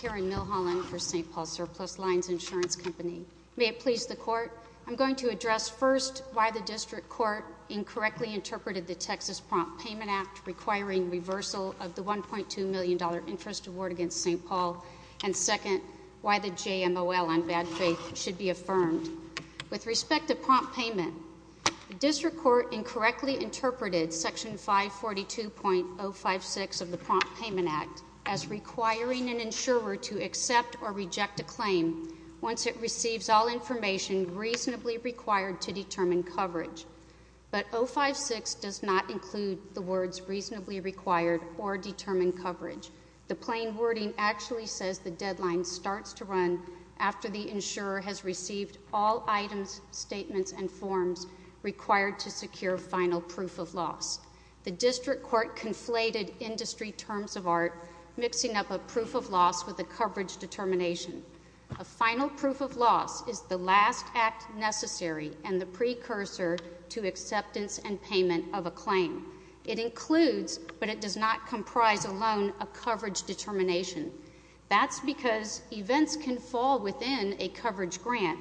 Karen Milholland for St. Paul Surplus Lines Insurance Company. May it please the Court, I'm going to address first why the District Court incorrectly interpreted the Texas Prompt Payment Act requiring reversal of the $1.2 million interest award against St. Paul, and second, why the JMOL on bad faith should be affirmed. With respect to prompt payment, the District Court incorrectly interpreted Section 542.056 of the Prompt Payment Act as requiring an insurer to accept or reject a claim once it receives all information reasonably required to determine coverage, but 056 does not include the words reasonably required or determine coverage. The plain wording actually says the deadline starts to run after the insurer has received all items, statements, and forms required to secure final proof of loss. The District Court conflated industry terms of art, mixing up a proof of loss with a coverage determination. A final proof of loss is the last act necessary and the precursor to acceptance and payment of a claim. It includes, but it does not comprise alone, a coverage determination. That's because events can fall within a coverage grant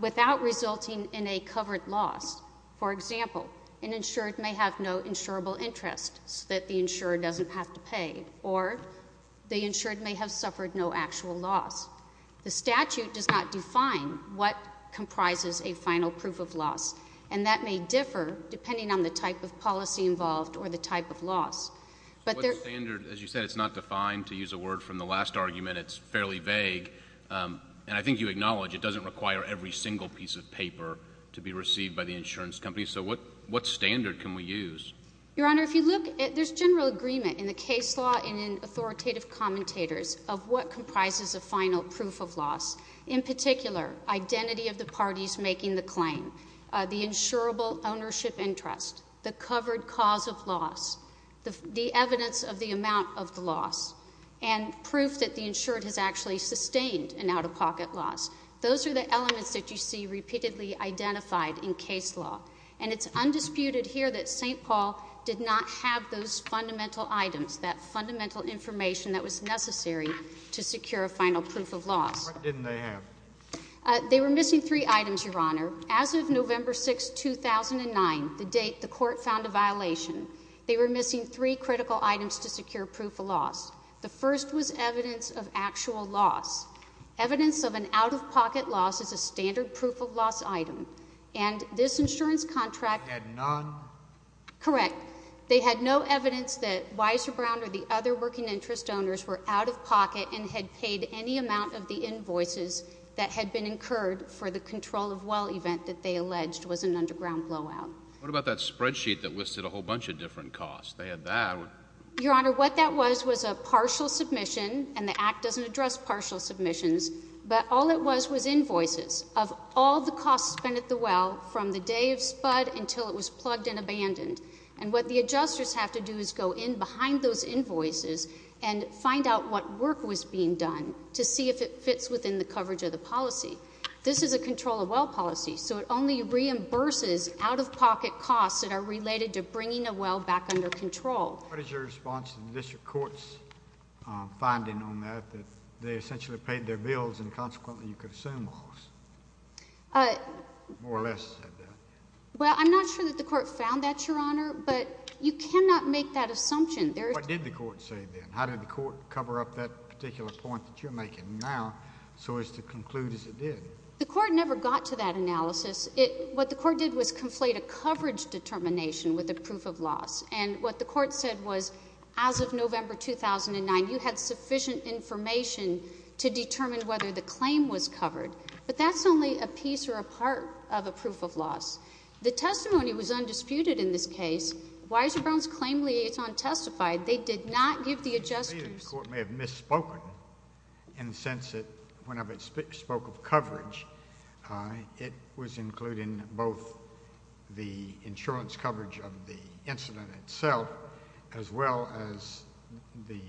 without resulting in a covered loss. For example, an insured may have no insurable interest so that the insurer doesn't have to pay, or the insured may have suffered no actual loss. The statute does not define what comprises a final proof of loss, and that may differ depending on the type of policy involved or the type of loss. But there — What's the standard? As you said, it's not defined. To use a word from the last argument, it's fairly vague, and I think you acknowledge it doesn't require every single piece of paper to be received by the insurance company. So what — What standard can we use? Your Honor, if you look at — there's general agreement in the case law and in authoritative commentators of what comprises a final proof of loss, in particular, identity of the parties making the claim, the insurable ownership interest, the covered cause of loss, the evidence of the amount of the loss, and proof that the insured has actually sustained an out-of-pocket loss. Those are the elements that you see repeatedly identified in case law. And it's undisputed here that St. Paul did not have those fundamental items, that fundamental information that was necessary to secure a final proof of loss. What didn't they have? They were missing three items, Your Honor. As of November 6, 2009, the date the Court found a violation, they were missing three critical items to secure proof of loss. The first was evidence of actual loss. Evidence of an out-of-pocket loss is a standard proof of loss item, and this insurance contract — Had none? Correct. They had no evidence that Weiser Brown or the other working interest owners were out-of-pocket and had paid any amount of the invoices that had been incurred for the control-of-well event that they alleged was an underground blowout. What about that spreadsheet that listed a whole bunch of different costs? They had that — Your Honor, what that was was a partial submission, and the Act doesn't address partial submissions, but all it was was invoices of all the costs spent at the well from the day of spud until it was plugged and abandoned. And what the adjusters have to do is go in behind those invoices and find out what work was being done to see if it fits within the coverage of the policy. This is a control-of-well policy, so it only reimburses out-of-pocket costs that are related to bringing a well back under control. What is your response to the district court's finding on that, that they essentially paid their bills, and consequently you could assume loss, more or less, said that? Well, I'm not sure that the court found that, Your Honor, but you cannot make that assumption. What did the court say then? How did the court cover up that particular point that you're making now so as to conclude as it did? The court never got to that analysis. What the court did was conflate a coverage determination with a proof of loss. And what the court said was, as of November 2009, you had sufficient information to determine whether the claim was covered. But that's only a piece or a part of a proof of loss. The testimony was undisputed in this case. Weiser Brown's claim liaison testified they did not give the adjusters... The court may have misspoken in the sense that whenever it spoke of coverage, it was both the insurance coverage of the incident itself as well as the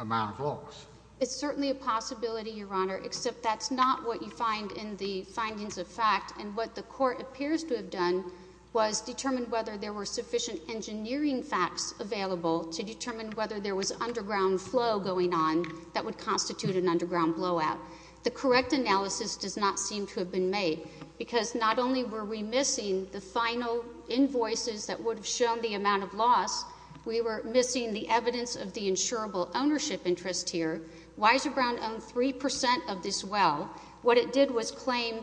amount of loss. It's certainly a possibility, Your Honor, except that's not what you find in the findings of fact. And what the court appears to have done was determine whether there were sufficient engineering facts available to determine whether there was underground flow going on that would constitute an underground blowout. The correct analysis does not seem to have been made. Because not only were we missing the final invoices that would have shown the amount of loss, we were missing the evidence of the insurable ownership interest here. Weiser Brown owned 3 percent of this well. What it did was claim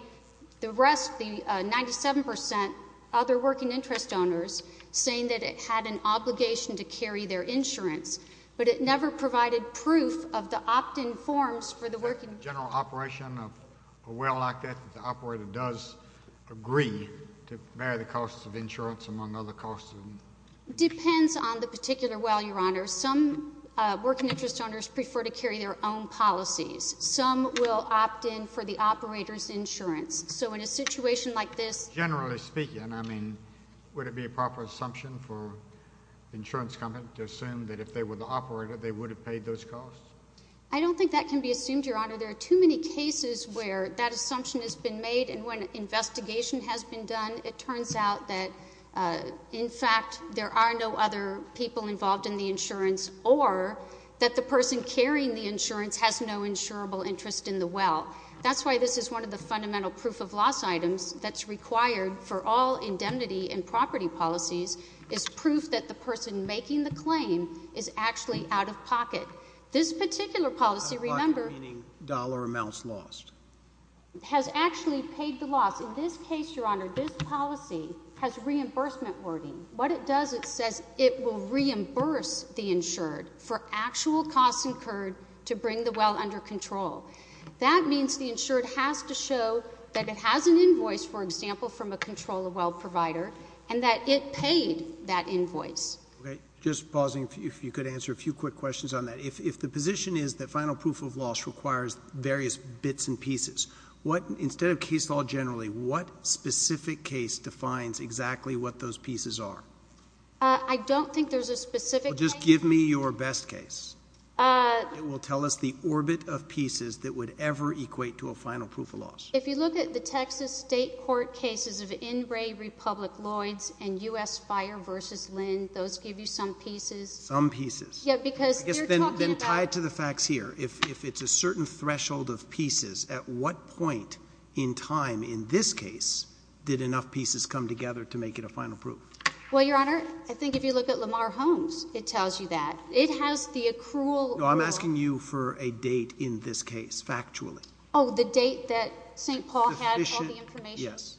the rest, the 97 percent, other working interest owners, saying that it had an obligation to carry their insurance. But it never provided proof of the opt-in forms for the working... Is it a general operation of a well like that that the operator does agree to bear the costs of insurance among other costs? Depends on the particular well, Your Honor. Some working interest owners prefer to carry their own policies. Some will opt-in for the operator's insurance. So in a situation like this... Generally speaking, I mean, would it be a proper assumption for the insurance company to assume that if they were the operator, they would have paid those costs? I don't think that can be assumed, Your Honor. There are too many cases where that assumption has been made, and when investigation has been done, it turns out that, in fact, there are no other people involved in the insurance, or that the person carrying the insurance has no insurable interest in the well. That's why this is one of the fundamental proof-of-loss items that's required for all indemnity and property policies, is proof that the person making the claim is actually This particular policy, remember... $50,000 amounts lost. Has actually paid the loss. In this case, Your Honor, this policy has reimbursement wording. What it does, it says it will reimburse the insured for actual costs incurred to bring the well under control. That means the insured has to show that it has an invoice, for example, from a control of well provider, and that it paid that invoice. Just pausing, if you could answer a few quick questions on that. If the position is that final proof-of-loss requires various bits and pieces, what... instead of case law generally, what specific case defines exactly what those pieces are? I don't think there's a specific case. Just give me your best case. It will tell us the orbit of pieces that would ever equate to a final proof-of-loss. If you look at the Texas State Court cases of N. Ray, Republic, Lloyds, and U.S. Fire v. Lynn, those give you some pieces. Some pieces. Yeah, because they're talking about... Then tie it to the facts here. If it's a certain threshold of pieces, at what point in time in this case did enough pieces come together to make it a final proof? Well, Your Honor, I think if you look at Lamar Holmes, it tells you that. It has the accrual... No, I'm asking you for a date in this case, factually. Oh, the date that St. Paul had all the information? Yes.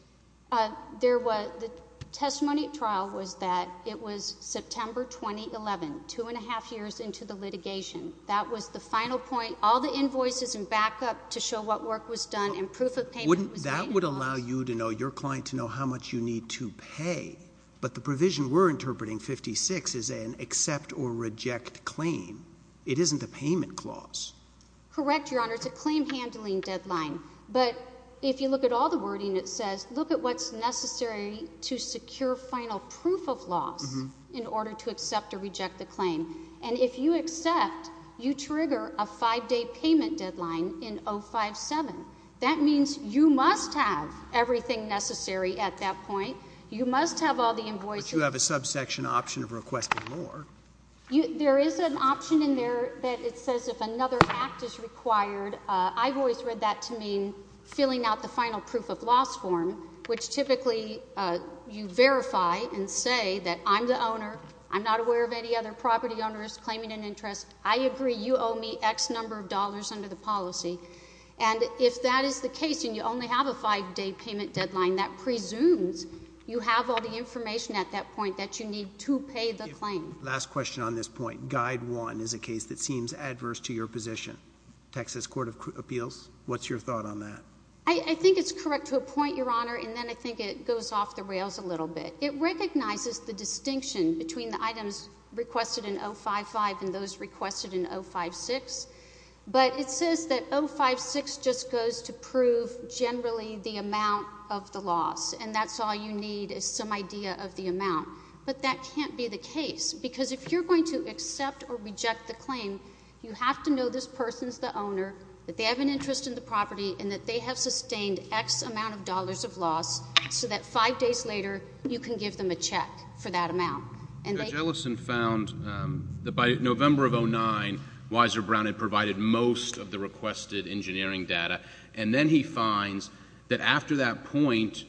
The testimony at trial was that it was September 2011, two and a half years into the litigation. That was the final point. All the invoices and backup to show what work was done and proof of payment was... That would allow you to know, your client, to know how much you need to pay, but the provision we're interpreting, 56, is an accept or reject claim. It isn't a payment clause. Correct, Your Honor. It's a claim-handling deadline. But if you look at all the wording, it says, look at what's necessary to secure final proof of loss in order to accept or reject the claim. And if you accept, you trigger a five-day payment deadline in 057. That means you must have everything necessary at that point. You must have all the invoices... But you have a subsection option of requesting more. There is an option in there that it says if another act is required. I've always read that to mean filling out the final proof of loss form, which typically you verify and say that I'm the owner. I'm not aware of any other property owners claiming an interest. I agree. You owe me X number of dollars under the policy. And if that is the case and you only have a five-day payment deadline, that presumes you have all the information at that point that you need to pay the claim. Last question on this point. Guide 1 is a case that seems adverse to your position. Texas Court of Appeals, what's your thought on that? I think it's correct to a point, Your Honor, and then I think it goes off the rails a little bit. It recognizes the distinction between the items requested in 055 and those requested in 056, but it says that 056 just goes to prove generally the amount of the loss, and that's all you need is some idea of the amount. But that can't be the case, because if you're going to accept or reject the claim, you have to know this person is the owner, that they have an interest in the property, and that they have sustained X amount of dollars of loss so that five days later, you can give them a check for that amount. Judge Ellison found that by November of 2009, Weiser Brown had provided most of the requested engineering data, and then he finds that after that point,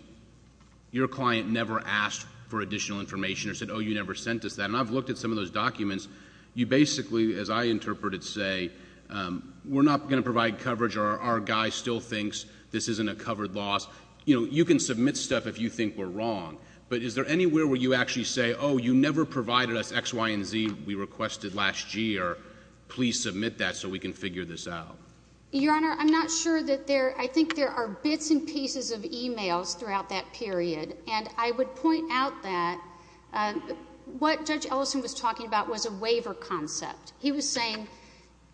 your client never asked for additional information or said, oh, you never sent us that. And I've looked at some of those documents. You basically, as I interpret it, say, we're not going to provide coverage, or our guy still thinks this isn't a covered loss. You know, you can submit stuff if you think we're wrong, but is there anywhere where you actually say, oh, you never provided us X, Y, and Z, we requested last year. Please submit that so we can figure this out. Your Honor, I'm not sure that there... I think there are bits and pieces of e-mails throughout that period, and I would point out that what Judge Ellison was talking about was a waiver concept. He was saying,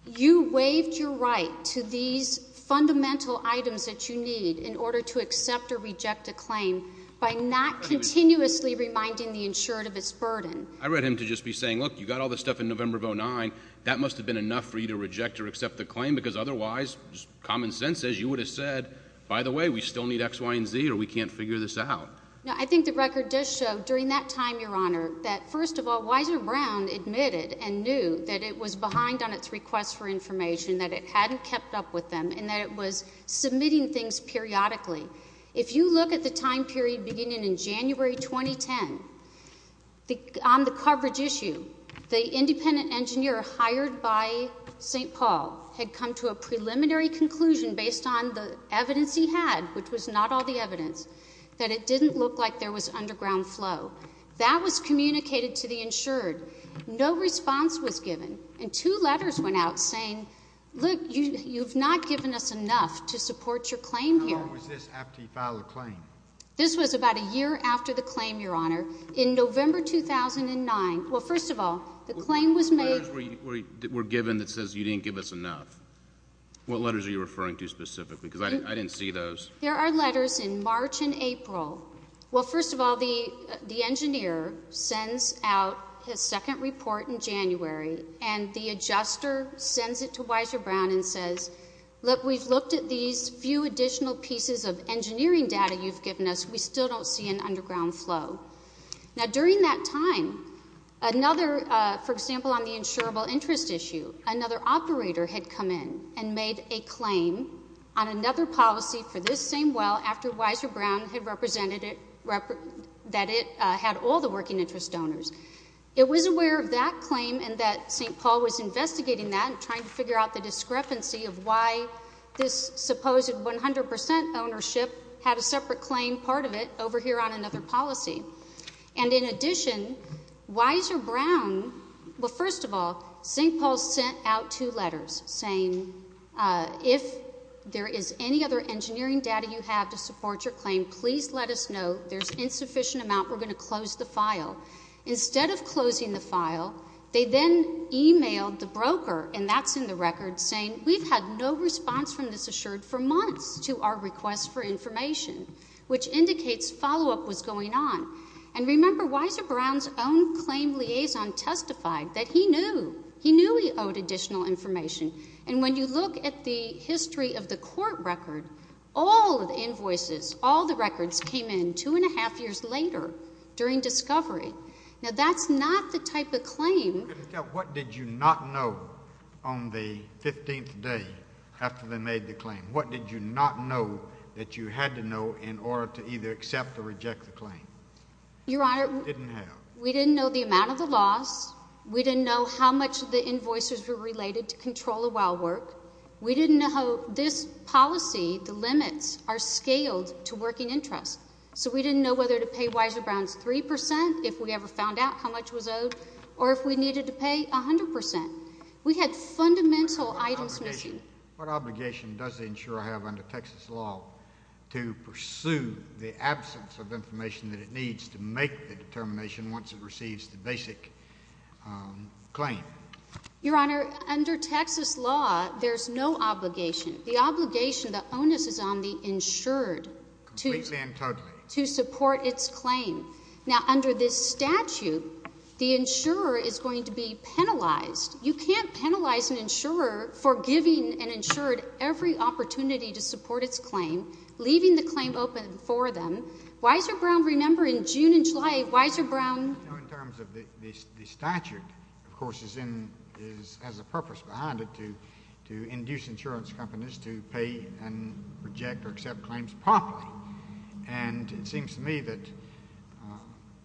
you waived your right to these fundamental items that you need in order to accept or reject a claim by not continuously reminding the insurant of its burden. I read him to just be saying, look, you got all this stuff in November of 2009. That must have been enough for you to reject or accept the claim, because otherwise, common sense, as you would have said, by the way, we still need X, Y, and Z, or we can't figure this out. No, I think the record does show during that time, Your Honor, that first of all, Weiser Brown admitted and knew that it was behind on its request for information, that it hadn't kept up with them, and that it was submitting things periodically. If you look at the time period beginning in January 2010, on the coverage issue, the independent based on the evidence he had, which was not all the evidence, that it didn't look like there was underground flow. That was communicated to the insured. No response was given, and two letters went out saying, look, you've not given us enough to support your claim here. How long was this after he filed the claim? This was about a year after the claim, Your Honor. In November 2009, well, first of all, the claim was made... What letters were given that says you didn't give us enough? What letters are you referring to specifically? Because I didn't see those. There are letters in March and April. Well, first of all, the engineer sends out his second report in January, and the adjuster sends it to Weiser Brown and says, look, we've looked at these few additional pieces of engineering data you've given us. We still don't see an underground flow. Now, during that time, another, for example, on the insurable interest issue, another operator had come in and made a claim on another policy for this same well after Weiser Brown had represented it... that it had all the working interest donors. It was aware of that claim and that St. Paul was investigating that and trying to figure out the discrepancy of why this supposed 100 percent ownership had a separate claim part of it over here on another policy. And in addition, Weiser Brown... well, first of all, St. Paul sent out two letters saying if there is any other engineering data you have to support your claim, please let us know. There's insufficient amount. We're going to close the file. Instead of closing the file, they then emailed the broker, and that's in the record, saying we've had no response from this assured for months to our request for information, which indicates follow-up was going on. And remember, Weiser Brown's own claim liaison testified that he knew. He knew he owed additional information. And when you look at the history of the court record, all of the invoices, all the records came in two and a half years later during discovery. Now, that's not the type of claim... What did you not know on the 15th day after they made the claim? What did you not know that you had to know in order to either accept or reject the claim? Your Honor... Didn't have. We didn't know the amount of the loss. We didn't know how much the invoices were related to control of wild work. We didn't know how this policy, the limits, are scaled to working interest. So we didn't know whether to pay Weiser Brown 3 percent if we ever found out how much was owed or if we needed to pay 100 percent. We had fundamental items missing. What obligation does the insurer have under Texas law to pursue the absence of information that it needs to make the determination once it receives the basic claim? Your Honor, under Texas law, there's no obligation. The obligation, the onus is on the insured... Completely and totally.... to support its claim. Now, under this statute, the insurer is going to be penalized. You can't penalize an insurer for giving an insured every opportunity to support its claim, leaving the claim open for them. Weiser Brown, remember, in June and July, Weiser Brown... No, in terms of the statute, of course, is in... has a purpose behind it to induce insurance companies to pay and reject or accept claims properly. And it seems to me that,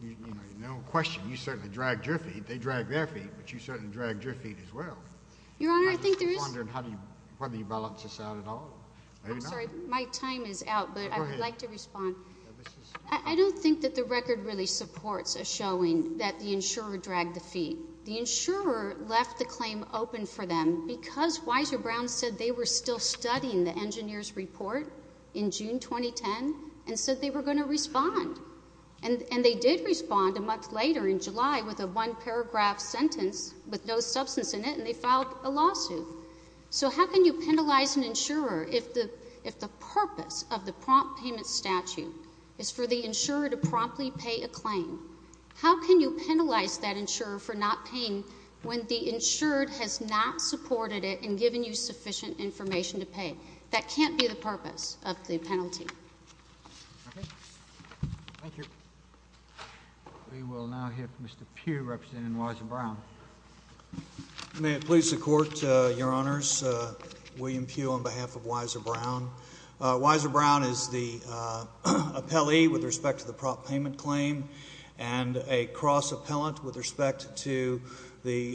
you know, no question, you certainly dragged Griffey. They dragged their feet, but you certainly dragged Griffey's feet as well. Your Honor, I think there is... I'm just wondering whether you balance this out at all. I'm sorry, my time is out, but I would like to respond. I don't think that the record really supports a showing that the insurer dragged the feet. The insurer left the claim open for them because Weiser Brown said they were still studying the engineer's report in June 2010 and said they were going to respond. And they did respond a month later in July with a one-paragraph sentence with no substance in it, and they filed a lawsuit. So how can you penalize an insurer if the purpose of the prompt payment statute is for the insurer to promptly pay a claim? How can you penalize that insurer for not paying when the insured has not supported it in giving you sufficient information to pay? That can't be the purpose of the penalty. Thank you. Okay. Thank you. We will now hear from Mr. Pugh, representing Weiser Brown. May it please the Court, Your Honors, William Pugh on behalf of Weiser Brown. Weiser Brown is the appellee with respect to the prompt payment claim and a cross-appellant with respect to the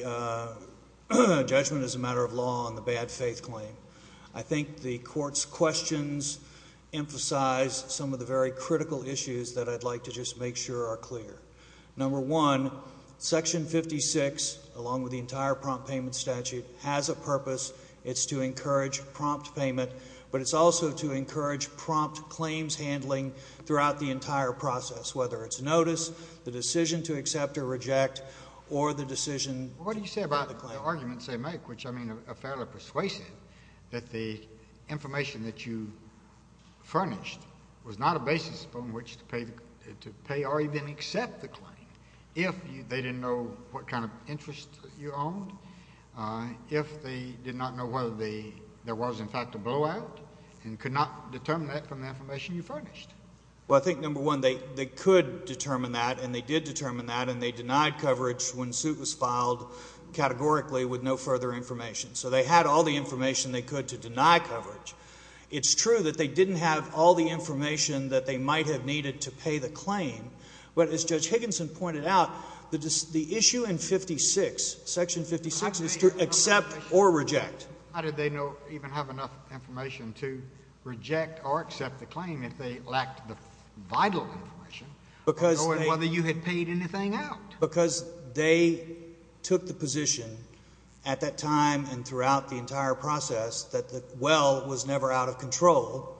judgment as a matter of law on the bad faith claim. I think the Court's questions emphasize some of the very critical issues that I'd like to just make sure are clear. Number one, Section 56, along with the entire prompt payment statute, has a purpose. It's to encourage prompt payment, but it's also to encourage prompt claims handling throughout the entire process, whether it's notice, the decision to accept or reject, or the decision to file the claim. But the arguments they make, which I mean are fairly persuasive, that the information that you furnished was not a basis upon which to pay or even accept the claim, if they didn't know what kind of interest you owned, if they did not know whether there was in fact a blowout and could not determine that from the information you furnished. Well, I think, number one, they could determine that, and they did determine that, and they with no further information. So they had all the information they could to deny coverage. It's true that they didn't have all the information that they might have needed to pay the claim, but as Judge Higginson pointed out, the issue in 56, Section 56, is to accept or reject. How did they even have enough information to reject or accept the claim if they lacked the vital information, knowing whether you had paid anything out? Because they took the position, at that time and throughout the entire process, that the well was never out of control.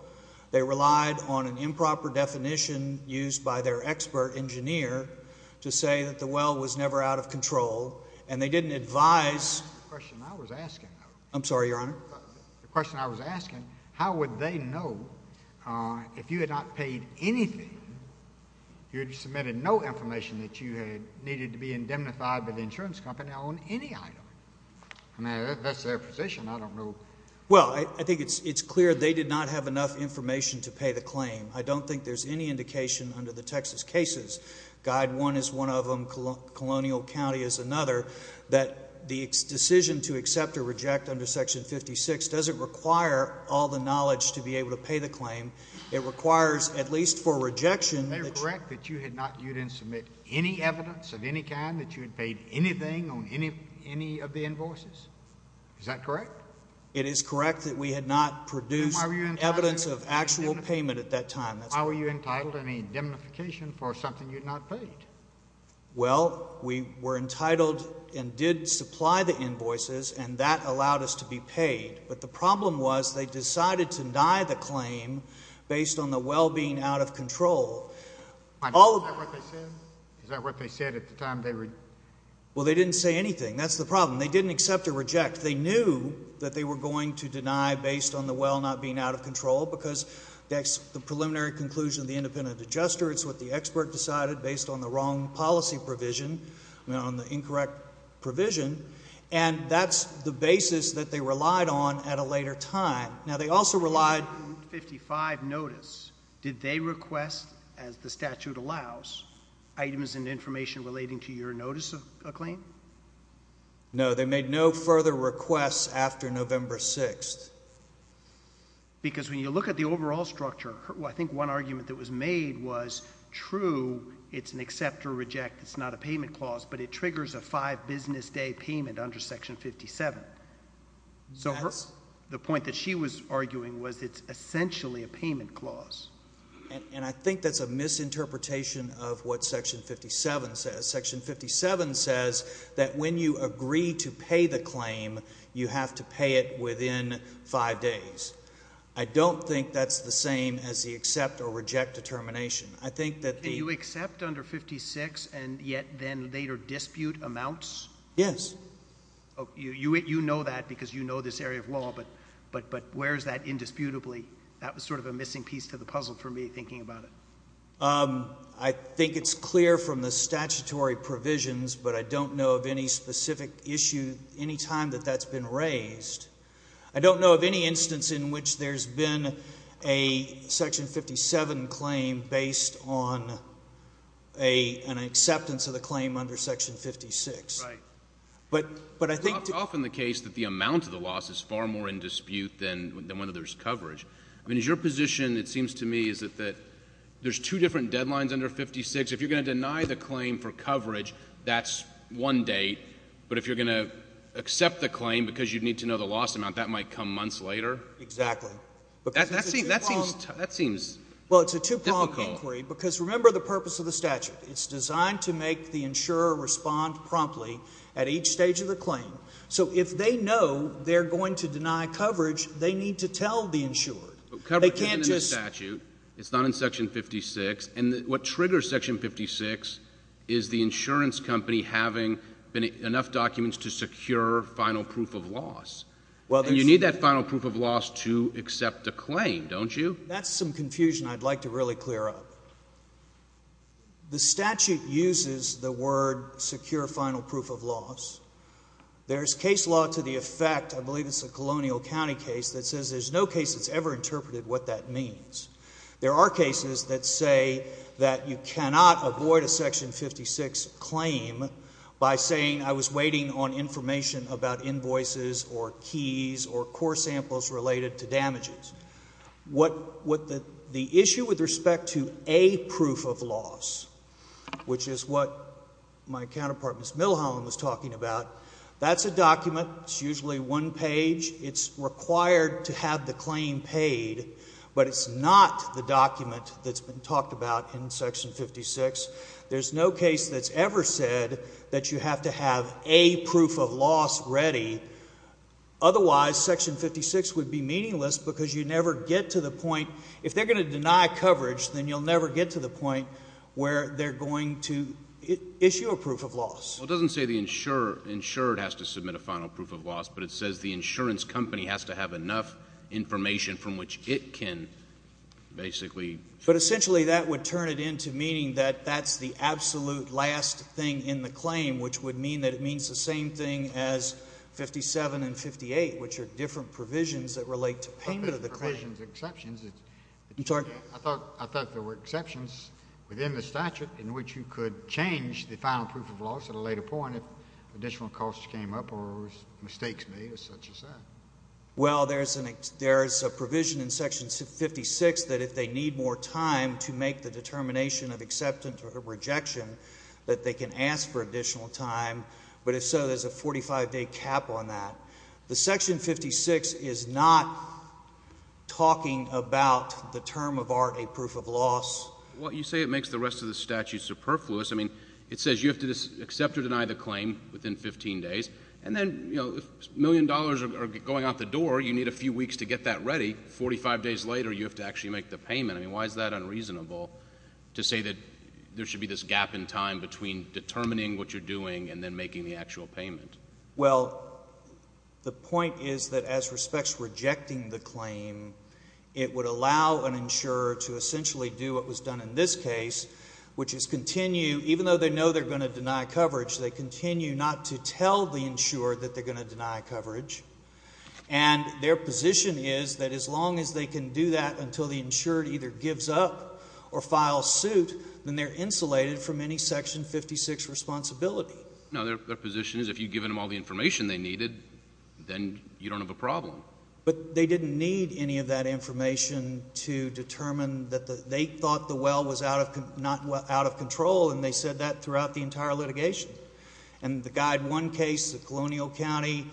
They relied on an improper definition used by their expert engineer to say that the well was never out of control, and they didn't advise... The question I was asking... I'm sorry, Your Honor. The question I was asking, how would they know, if you had not paid anything, you submitted no information that you had needed to be indemnified by the insurance company on any item? That's their position. I don't know... Well, I think it's clear they did not have enough information to pay the claim. I don't think there's any indication under the Texas cases, Guide 1 is one of them, Colonial County is another, that the decision to accept or reject under Section 56 doesn't require all the knowledge to be able to pay the claim. It requires, at least for rejection... Is that correct, that you had not... you didn't submit any evidence of any kind that you had paid anything on any of the invoices? Is that correct? It is correct that we had not produced evidence of actual payment at that time. That's correct. How were you entitled to any indemnification for something you had not paid? Well, we were entitled and did supply the invoices, and that allowed us to be paid. But the problem was, they decided to deny the claim based on the well being out of control. Is that what they said? Is that what they said at the time they... Well, they didn't say anything. That's the problem. They didn't accept or reject. They knew that they were going to deny based on the well not being out of control, because that's the preliminary conclusion of the independent adjuster, it's what the expert decided based on the wrong policy provision, on the incorrect provision, and that's the basis that they relied on at a later time. Now they also relied...... 55 notice. Did they request, as the statute allows, items and information relating to your notice of claim? No. They made no further requests after November 6th. Because when you look at the overall structure, I think one argument that was made was, true, it's an accept or reject, it's not a payment clause, but it triggers a 5 business day payment under Section 57. So the point that she was arguing was it's essentially a payment clause. And I think that's a misinterpretation of what Section 57 says. Section 57 says that when you agree to pay the claim, you have to pay it within 5 days. I don't think that's the same as the accept or reject determination. I think that the... Do you accept under 56 and yet then later dispute amounts? Yes. Oh, you know that because you know this area of law, but where is that indisputably? That was sort of a missing piece to the puzzle for me, thinking about it. I think it's clear from the statutory provisions, but I don't know of any specific issue any time that that's been raised. I don't know of any instance in which there's been a Section 57 claim based on an acceptance of the claim under Section 56. Right. But I think... It's often the case that the amount of the loss is far more in dispute than whether there's coverage. I mean, is your position, it seems to me, is that there's two different deadlines under 56. If you're going to deny the claim for coverage, that's one date. But if you're going to accept the claim because you need to know the loss amount, that might come months later? Exactly. That seems... Well, it's a two-pronged inquiry because remember the purpose of the statute. It's designed to make the insurer respond promptly at each stage of the claim. So if they know they're going to deny coverage, they need to tell the insurer. They can't just... But coverage is in the statute. It's not in Section 56. And what triggers Section 56 is the insurance company having enough documents to secure final proof of loss. Well, there's... And you need that final proof of loss to accept a claim, don't you? That's some confusion I'd like to really clear up. The statute uses the word secure final proof of loss. There's case law to the effect, I believe it's the Colonial County case, that says there's no case that's ever interpreted what that means. There are cases that say that you cannot avoid a Section 56 claim by saying I was waiting on information about invoices or keys or core samples related to damages. What the issue with respect to a proof of loss, which is what my counterpart, Ms. Millholm, was talking about, that's a document, it's usually one page, it's required to have the claim paid, but it's not the document that's been talked about in Section 56. There's no case that's ever said that you have to have a proof of loss ready, otherwise Section 56 would be meaningless because you never get to the point... if they're going to deny coverage, then you'll never get to the point where they're going to issue a proof of loss. Well, it doesn't say the insured has to submit a final proof of loss, but it says the insurance company has to have enough information from which it can basically... But, essentially, that would turn it into meaning that that's the absolute last thing in the claim, which would mean that it means the same thing as 57 and 58, which are different provisions that relate to payment of the claim. I thought there were exceptions within the statute in which you could change the final proof of loss at a later point if additional costs came up or mistakes made, or such as that. Well, there's a provision in Section 56 that if they need more time to make the determination of acceptance or rejection, that they can ask for additional time. But if so, there's a 45-day cap on that. The Section 56 is not talking about the term of art, a proof of loss. Well, you say it makes the rest of the statute superfluous. I mean, it says you have to accept or deny the claim within 15 days, and then, you know, if a million dollars are going out the door, you need a few weeks to get that ready. Forty-five days later, you have to actually make the payment. I mean, why is that unreasonable to say that there should be this gap in time between determining what you're doing and then making the actual payment? Well, the point is that as respects to rejecting the claim, it would allow an insurer to essentially do what was done in this case, which is continue, even though they know they're going to deny coverage, they continue not to tell the insurer that they're going to deny coverage. And their position is that as long as they can do that until the insurer either gives up or files suit, then they're insulated from any Section 56 responsibility. No, their position is if you've given them all the information they needed, then you don't have a problem. But they didn't need any of that information to determine that they thought the well was out of control, and they said that throughout the entire litigation. And the Guide 1 case, the Colonial County,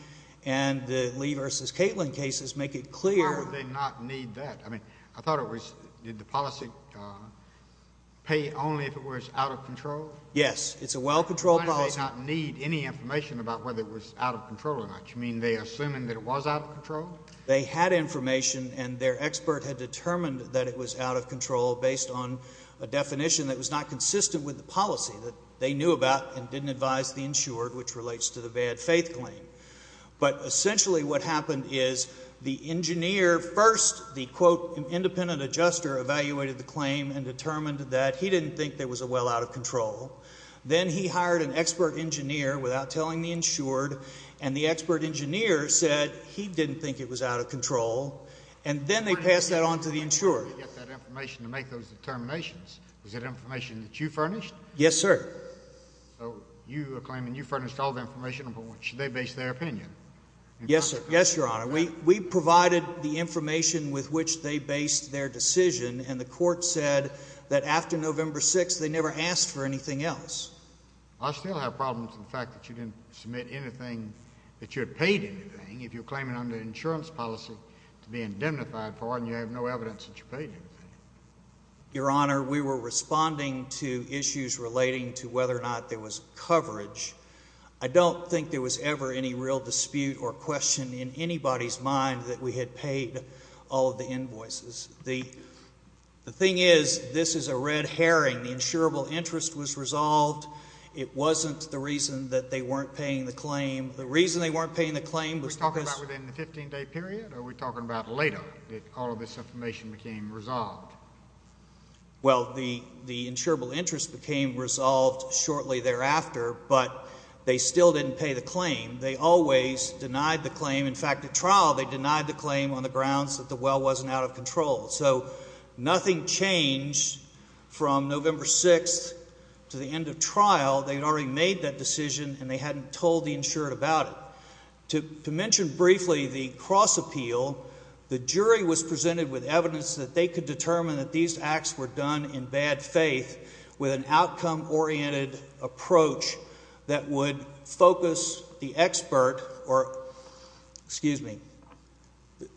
and the Lee v. Kaitlin cases make it clear Why would they not need that? I mean, I thought it was, did the policy pay only if it was out of control? Yes. It's a well-controlled policy. Why did they not need any information about whether it was out of control or not? You mean they assumed that it was out of control? They had information, and their expert had determined that it was out of control based on a definition that was not consistent with the policy that they knew about and didn't advise the insured, which relates to the bad faith claim. But essentially what happened is the engineer first, the, quote, independent adjuster evaluated the claim and determined that he didn't think there was a well out of control. Then he hired an expert engineer without telling the insured, and the expert engineer said he didn't think it was out of control. And then they passed that on to the insured. How did they get that information to make those determinations? Was it information that you furnished? Yes, sir. So you are claiming you furnished all the information upon which they based their opinion? Yes, sir. Yes, Your Honor. We provided the information with which they based their decision, and the court said that after November 6th, they never asked for anything else. I still have problems with the fact that you didn't submit anything, that you had paid anything, if you're claiming under insurance policy to be indemnified for, and you have no evidence that you paid anything. Your Honor, we were responding to issues relating to whether or not there was coverage. I don't think there was ever any real dispute or question in anybody's mind that we had paid all of the invoices. The thing is, this is a red herring. The insurable interest was resolved. It wasn't the reason that they weren't paying the claim. The reason they weren't paying the claim was because... Are we talking about within the 15-day period, or are we talking about later? All of this information became resolved. Well, the insurable interest became resolved shortly thereafter, but they still didn't pay the claim. They always denied the claim. In fact, at trial, they denied the claim on the grounds that the well wasn't out of control. So nothing changed from November 6th to the end of trial. They had already made that decision, and they hadn't told the insured about it. To mention briefly the cross-appeal, the jury was presented with evidence that they could determine that these acts were done in bad faith with an outcome-oriented approach that would focus the expert or... Excuse me.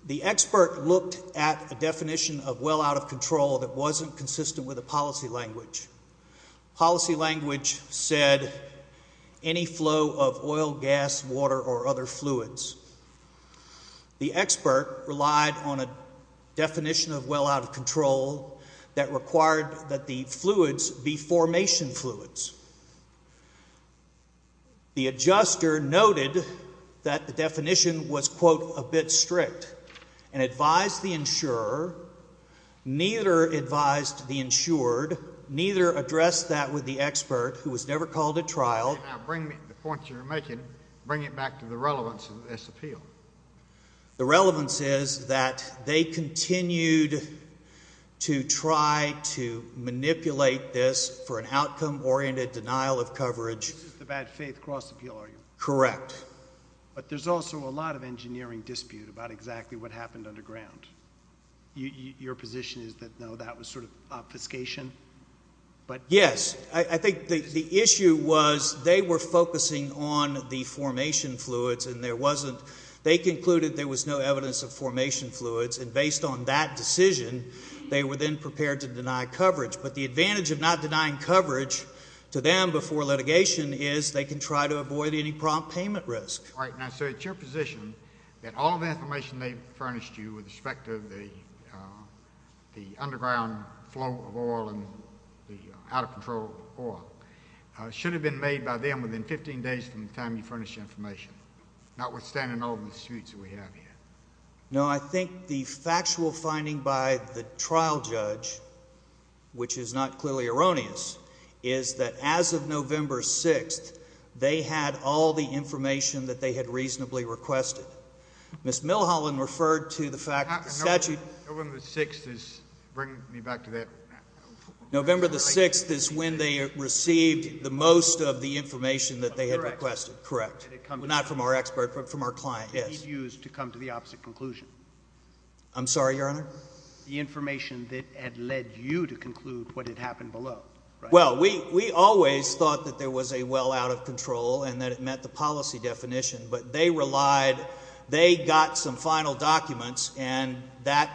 The expert looked at a definition of well out of control that wasn't consistent with the policy language. Policy language said any flow of oil, gas, water, or other fluids. The expert relied on a definition of well out of control that required that the fluids be formation fluids. The adjuster noted that the definition was, quote, a bit strict, and advised the insurer. Neither advised the insured. Neither addressed that with the expert, who was never called at trial. Now bring me the points you're making. Bring it back to the relevance of this appeal. The relevance is that they continued to try to manipulate this for an outcome-oriented denial of coverage. This is the bad faith cross-appeal argument. Correct. But there's also a lot of engineering dispute about exactly what happened underground. Your position is that, no, that was sort of obfuscation? Yes. I think the issue was they were focusing on the formation fluids, and there wasn't... They concluded there was no evidence of formation fluids, and based on that decision, they were then prepared to deny coverage. But the advantage of not denying coverage to them before litigation is they can try to avoid any prompt payment risk. Right. Now, sir, it's your position that all the information they furnished you with respect to the underground flow of oil and the out-of-control oil should have been made by them within 15 days from the time you furnished the information, notwithstanding all the disputes we have here. No, I think the factual finding by the trial judge, which is not clearly erroneous, is that as of November 6th, they had all the information that they had reasonably requested. Ms. Milholland referred to the fact that the statute... November 6th is... Bring me back to that. November 6th is when they received the most of the information that they had requested. Correct. Not from our expert, but from our client. Yes. And he's used to come to the opposite conclusion. I'm sorry, Your Honor? The information that had led you to conclude what had happened below. Well, we always thought that there was a well out-of-control and that it met the policy definition, but they relied... They got some final documents, and that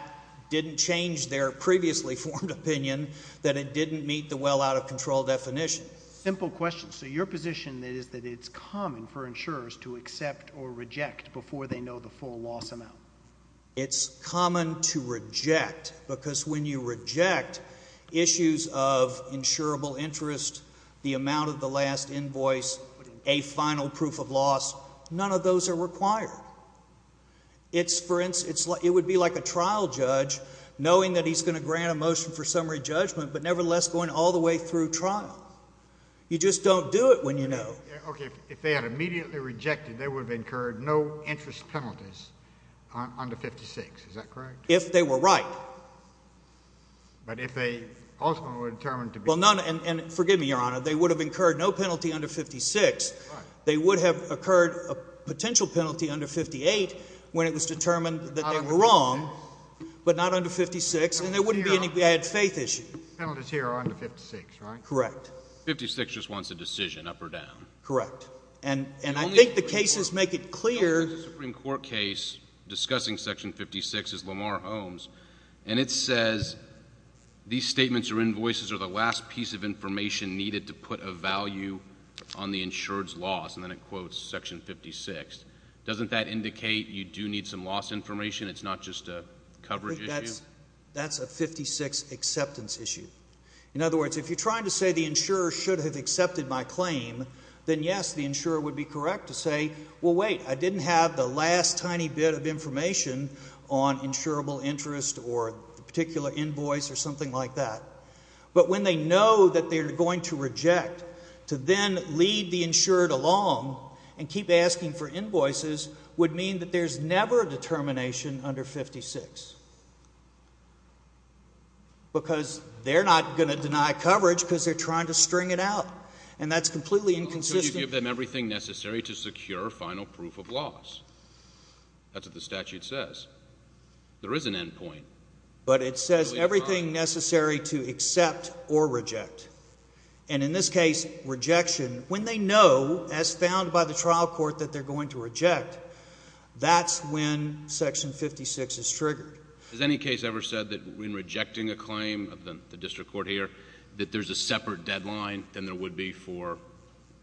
didn't change their previously formed opinion that it didn't meet the well out-of-control definition. Simple question. So your position is that it's common for insurers to accept or reject before they know the full loss amount. It's common to reject, because when you reject issues of insurable interest, the amount of the last invoice, a final proof of loss, none of those are required. It would be like a trial judge knowing that he's going to grant a motion for summary judgment, but nevertheless going all the way through trial. You just don't do it when you know. Okay. If they had immediately rejected, they would have incurred no interest penalties under 56. Is that correct? If they were right. But if they ultimately were determined to be... Well, none... And forgive me, Your Honor. They would have incurred no penalty under 56. They would have occurred a potential penalty under 58 when it was determined that they were wrong, but not under 56, and there wouldn't be any bad faith issue. Penalties here are under 56, right? Correct. 56 just wants a decision, up or down. Correct. And I think the cases make it clear... The Supreme Court case discussing Section 56 is Lamar Holmes, and it says these statements or invoices are the last piece of information needed to put a value on the insured's loss, and then it quotes Section 56. Doesn't that indicate you do need some loss information? It's not just a coverage issue? That's a 56 acceptance issue. In other words, if you're trying to say the insurer should have accepted my claim, then yes, the insurer would be correct to say, well, wait, I didn't have the last tiny bit of information on insurable interest or a particular invoice or something like that. But when they know that they're going to reject, to then lead the insured along and keep asking for invoices would mean that there's never a determination under 56, because they're not going to deny coverage because they're trying to string it out, and that's completely inconsistent. So you give them everything necessary to secure final proof of loss. That's what the statute says. There is an end point. But it says everything necessary to accept or reject, and in this case, rejection, when they know, as found by the trial court, that they're going to reject, that's when Section 56 is triggered. Has any case ever said that when rejecting a claim of the district court here, that there's a separate deadline than there would be for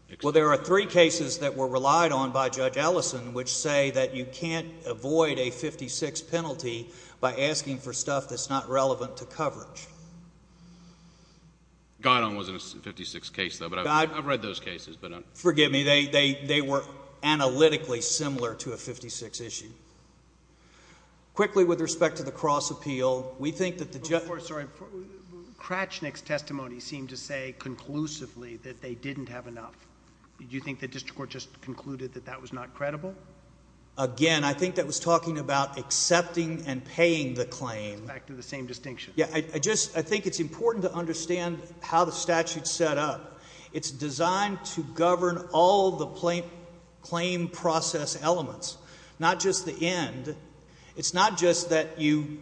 acceptance? Well, there are three cases that were relied on by Judge Ellison which say that you can't avoid a 56 penalty by asking for stuff that's not relevant to coverage. Goddard was in a 56 case, though, but I've read those cases. Forgive me. They were analytically similar to a 56 issue. Quickly, with respect to the cross appeal, we think that the judge... Before, sorry. Kratchnik's testimony seemed to say conclusively that they didn't have enough. Do you think the district court just concluded that that was not credible? Again, I think that was talking about accepting and paying the claim. Back to the same distinction. Yeah. I just, I think it's important to understand how the statute's set up. It's designed to govern all the claim process elements, not just the end. It's not just that you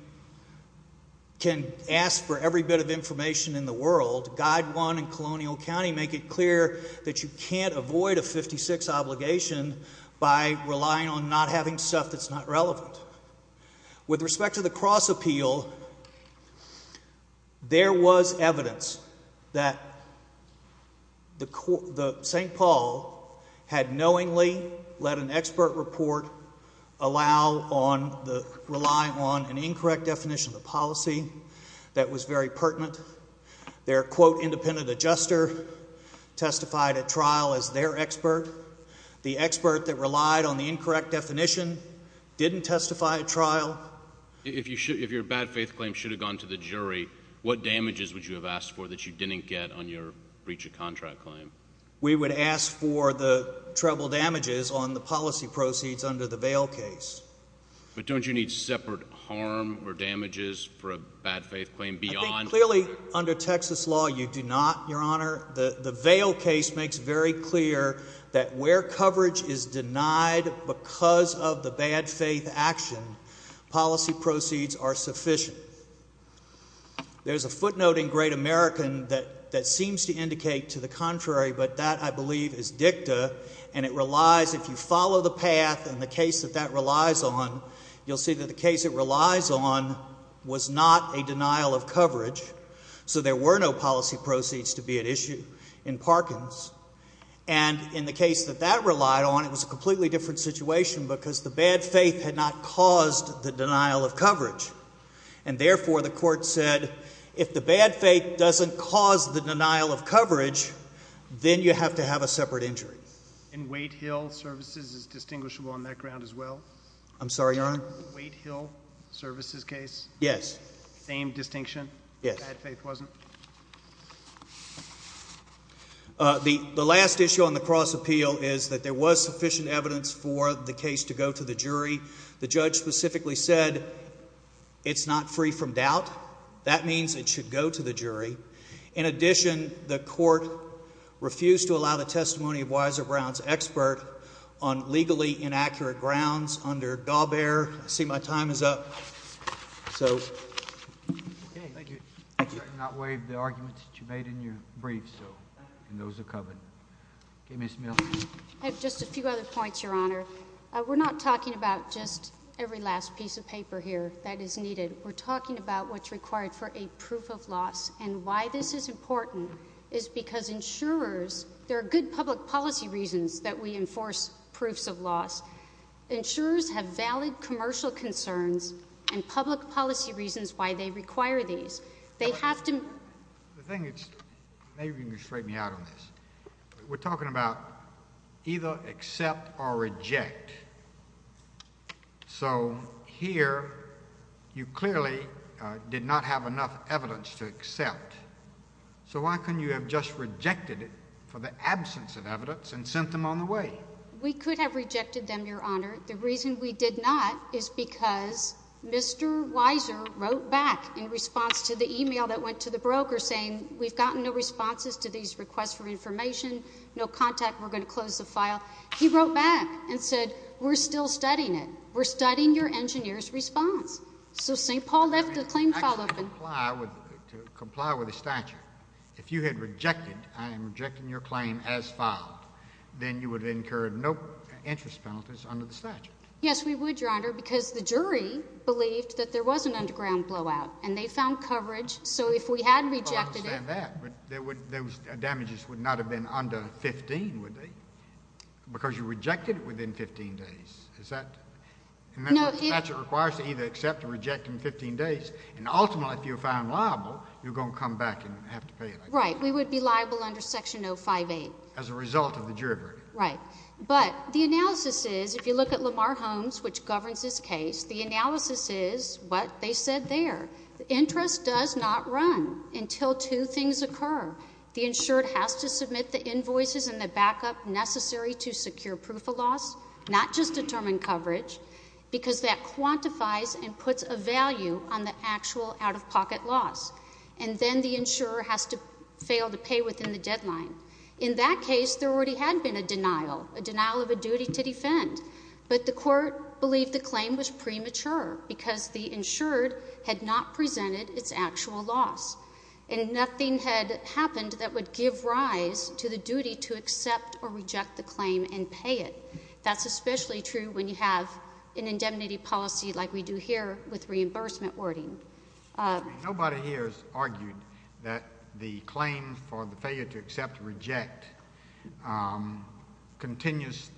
can ask for every bit of information in the world. Guide 1 and Colonial County make it clear that you can't avoid a 56 obligation by relying on not having stuff that's not relevant. With respect to the cross appeal, there was evidence that the St. Paul had knowingly let an expert report rely on an incorrect definition of the policy that was very pertinent. Their, quote, independent adjuster testified at trial as their expert. The expert that relied on the incorrect definition didn't testify at trial. If your bad faith claim should have gone to the jury, what damages would you have asked for that you didn't get on your breach of contract claim? We would ask for the treble damages on the policy proceeds under the Vail case. But don't you need separate harm or damages for a bad faith claim beyond... The Vail case makes very clear that where coverage is denied because of the bad faith action, policy proceeds are sufficient. There's a footnote in Great American that seems to indicate to the contrary, but that, I believe, is dicta. And it relies, if you follow the path and the case that that relies on, you'll see that the case it relies on was not a denial of coverage. So there were no policy proceeds to be at issue in Parkins. And in the case that that relied on, it was a completely different situation because the bad faith had not caused the denial of coverage. And therefore, the court said, if the bad faith doesn't cause the denial of coverage, then you have to have a separate injury. And Waite Hill Services is distinguishable on that ground as well? I'm sorry, Your Honor? Waite Hill Services case? Yes. Same distinction? Yes. Bad faith wasn't? The last issue on the cross-appeal is that there was sufficient evidence for the case to go to the jury. The judge specifically said, it's not free from doubt. That means it should go to the jury. In addition, the court refused to allow the testimony of Weiser Brown's expert on legally inaccurate grounds under Gaubert. I see my time is up. So. Okay. Thank you. I'm sorry to not waive the arguments that you made in your brief, so. And those are covered. Okay, Ms. Mill. I have just a few other points, Your Honor. We're not talking about just every last piece of paper here that is needed. We're talking about what's required for a proof of loss. And why this is important is because insurers, there are good public policy reasons that we enforce proofs of loss. Insurers have valid commercial concerns and public policy reasons why they require these. They have to. The thing is, maybe you can straighten me out on this. We're talking about either accept or reject. So here, you clearly did not have enough evidence to accept. So why couldn't you have just rejected it for the absence of evidence and sent them on the way? We could have rejected them, Your Honor. The reason we did not is because Mr. Weiser wrote back in response to the email that went to the broker saying, we've gotten no responses to these requests for information, no contact, we're going to close the file. He wrote back and said, we're still studying it. We're studying your engineer's response. So St. Paul left the claim file open. I can comply with the statute. If you had rejected, I am rejecting your claim as filed, then you would have incurred no interest penalties under the statute. Yes, we would, Your Honor, because the jury believed that there was an underground blowout. And they found coverage. So if we had rejected it. I understand that. But those damages would not have been under 15, would they? Because you rejected it within 15 days. Is that? Remember, the statute requires to either accept or reject in 15 days. And ultimately, if you're found liable, you're going to come back and have to pay it. Right. We would be liable under Section 058. As a result of the jury verdict. Right. But the analysis is, if you look at Lamar Holmes, which governs this case, the analysis is what they said there. Interest does not run until two things occur. The insured has to submit the invoices and the backup necessary to secure proof of loss, not just determine coverage, because that quantifies and puts a value on the actual out-of-pocket loss. And then the insurer has to fail to pay within the deadline. In that case, there already had been a denial, a denial of a duty to defend. But the court believed the claim was premature because the insured had not presented its actual loss. And nothing had happened that would give rise to the duty to accept or reject the claim and pay it. That's especially true when you have an indemnity policy like we do here with reimbursement wording. Nobody here has argued that the claim for the failure to accept or reject continues,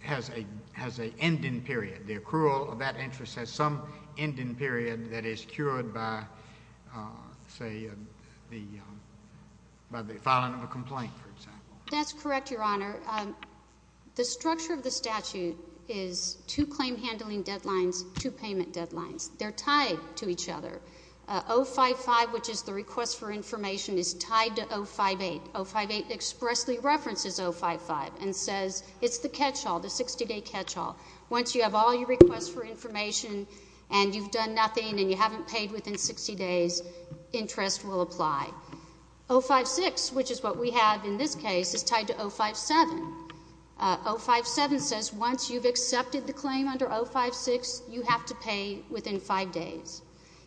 has an ending period. The accrual of that interest has some ending period that is cured by, say, the filing of a complaint, for example. That's correct, Your Honor. The structure of the statute is two claim handling deadlines, two payment deadlines. They're tied to each other. 055, which is the request for information, is tied to 058. 058 expressly references 055 and says it's the catch-all, the 60-day catch-all. Once you have all your requests for information and you've done nothing and you haven't paid within 60 days, interest will apply. 056, which is what we have in this case, is tied to 057. 057 says once you've accepted the claim under 056, you have to pay within five days.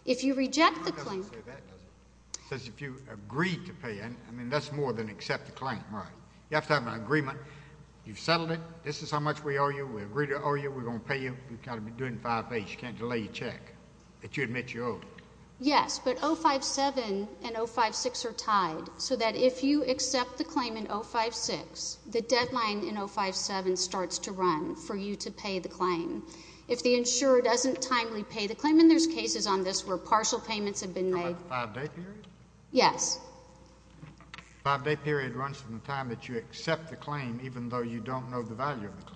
If you reject the claim— It doesn't say that, does it? It says if you agreed to pay. I mean, that's more than accept the claim, right? You have to have an agreement. You've settled it. This is how much we owe you. We agreed to owe you. We're going to pay you. You can't delay your check. But you admit you owed it. Yes, but 057 and 056 are tied so that if you accept the claim in 056, the deadline in 057 starts to run for you to pay the claim. If the insurer doesn't timely pay the claim—and there's cases on this where partial payments have been made— Five-day period? Yes. Five-day period runs from the time that you accept the claim even though you don't know the value of the claim.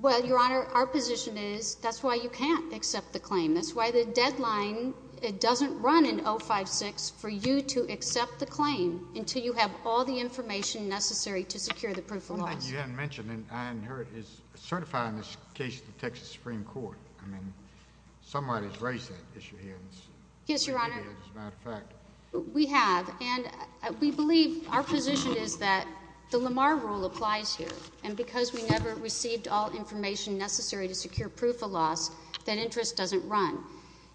Well, Your Honor, our position is that's why you can't accept the claim. That's why the deadline doesn't run in 056 for you to accept the claim until you have all the information necessary to secure the proof of loss. One thing you hadn't mentioned, and I inherit, is certifying this case to the Texas Supreme Court. I mean, somebody's raised that issue here. Yes, Your Honor. As a matter of fact. We have. And we believe our position is that the Lamar Rule applies here. And because we never received all information necessary to secure proof of loss, that interest doesn't run.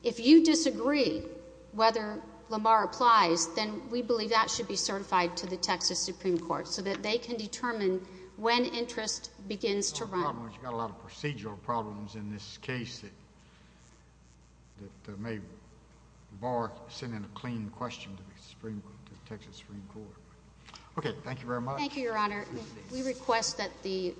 If you disagree whether Lamar applies, then we believe that should be certified to the Texas Supreme Court so that they can determine when interest begins to run. You've got a lot of procedural problems in this case that may bar sending a clean question to the Texas Supreme Court. Okay, thank you very much. Thank you, Your Honor. We request that the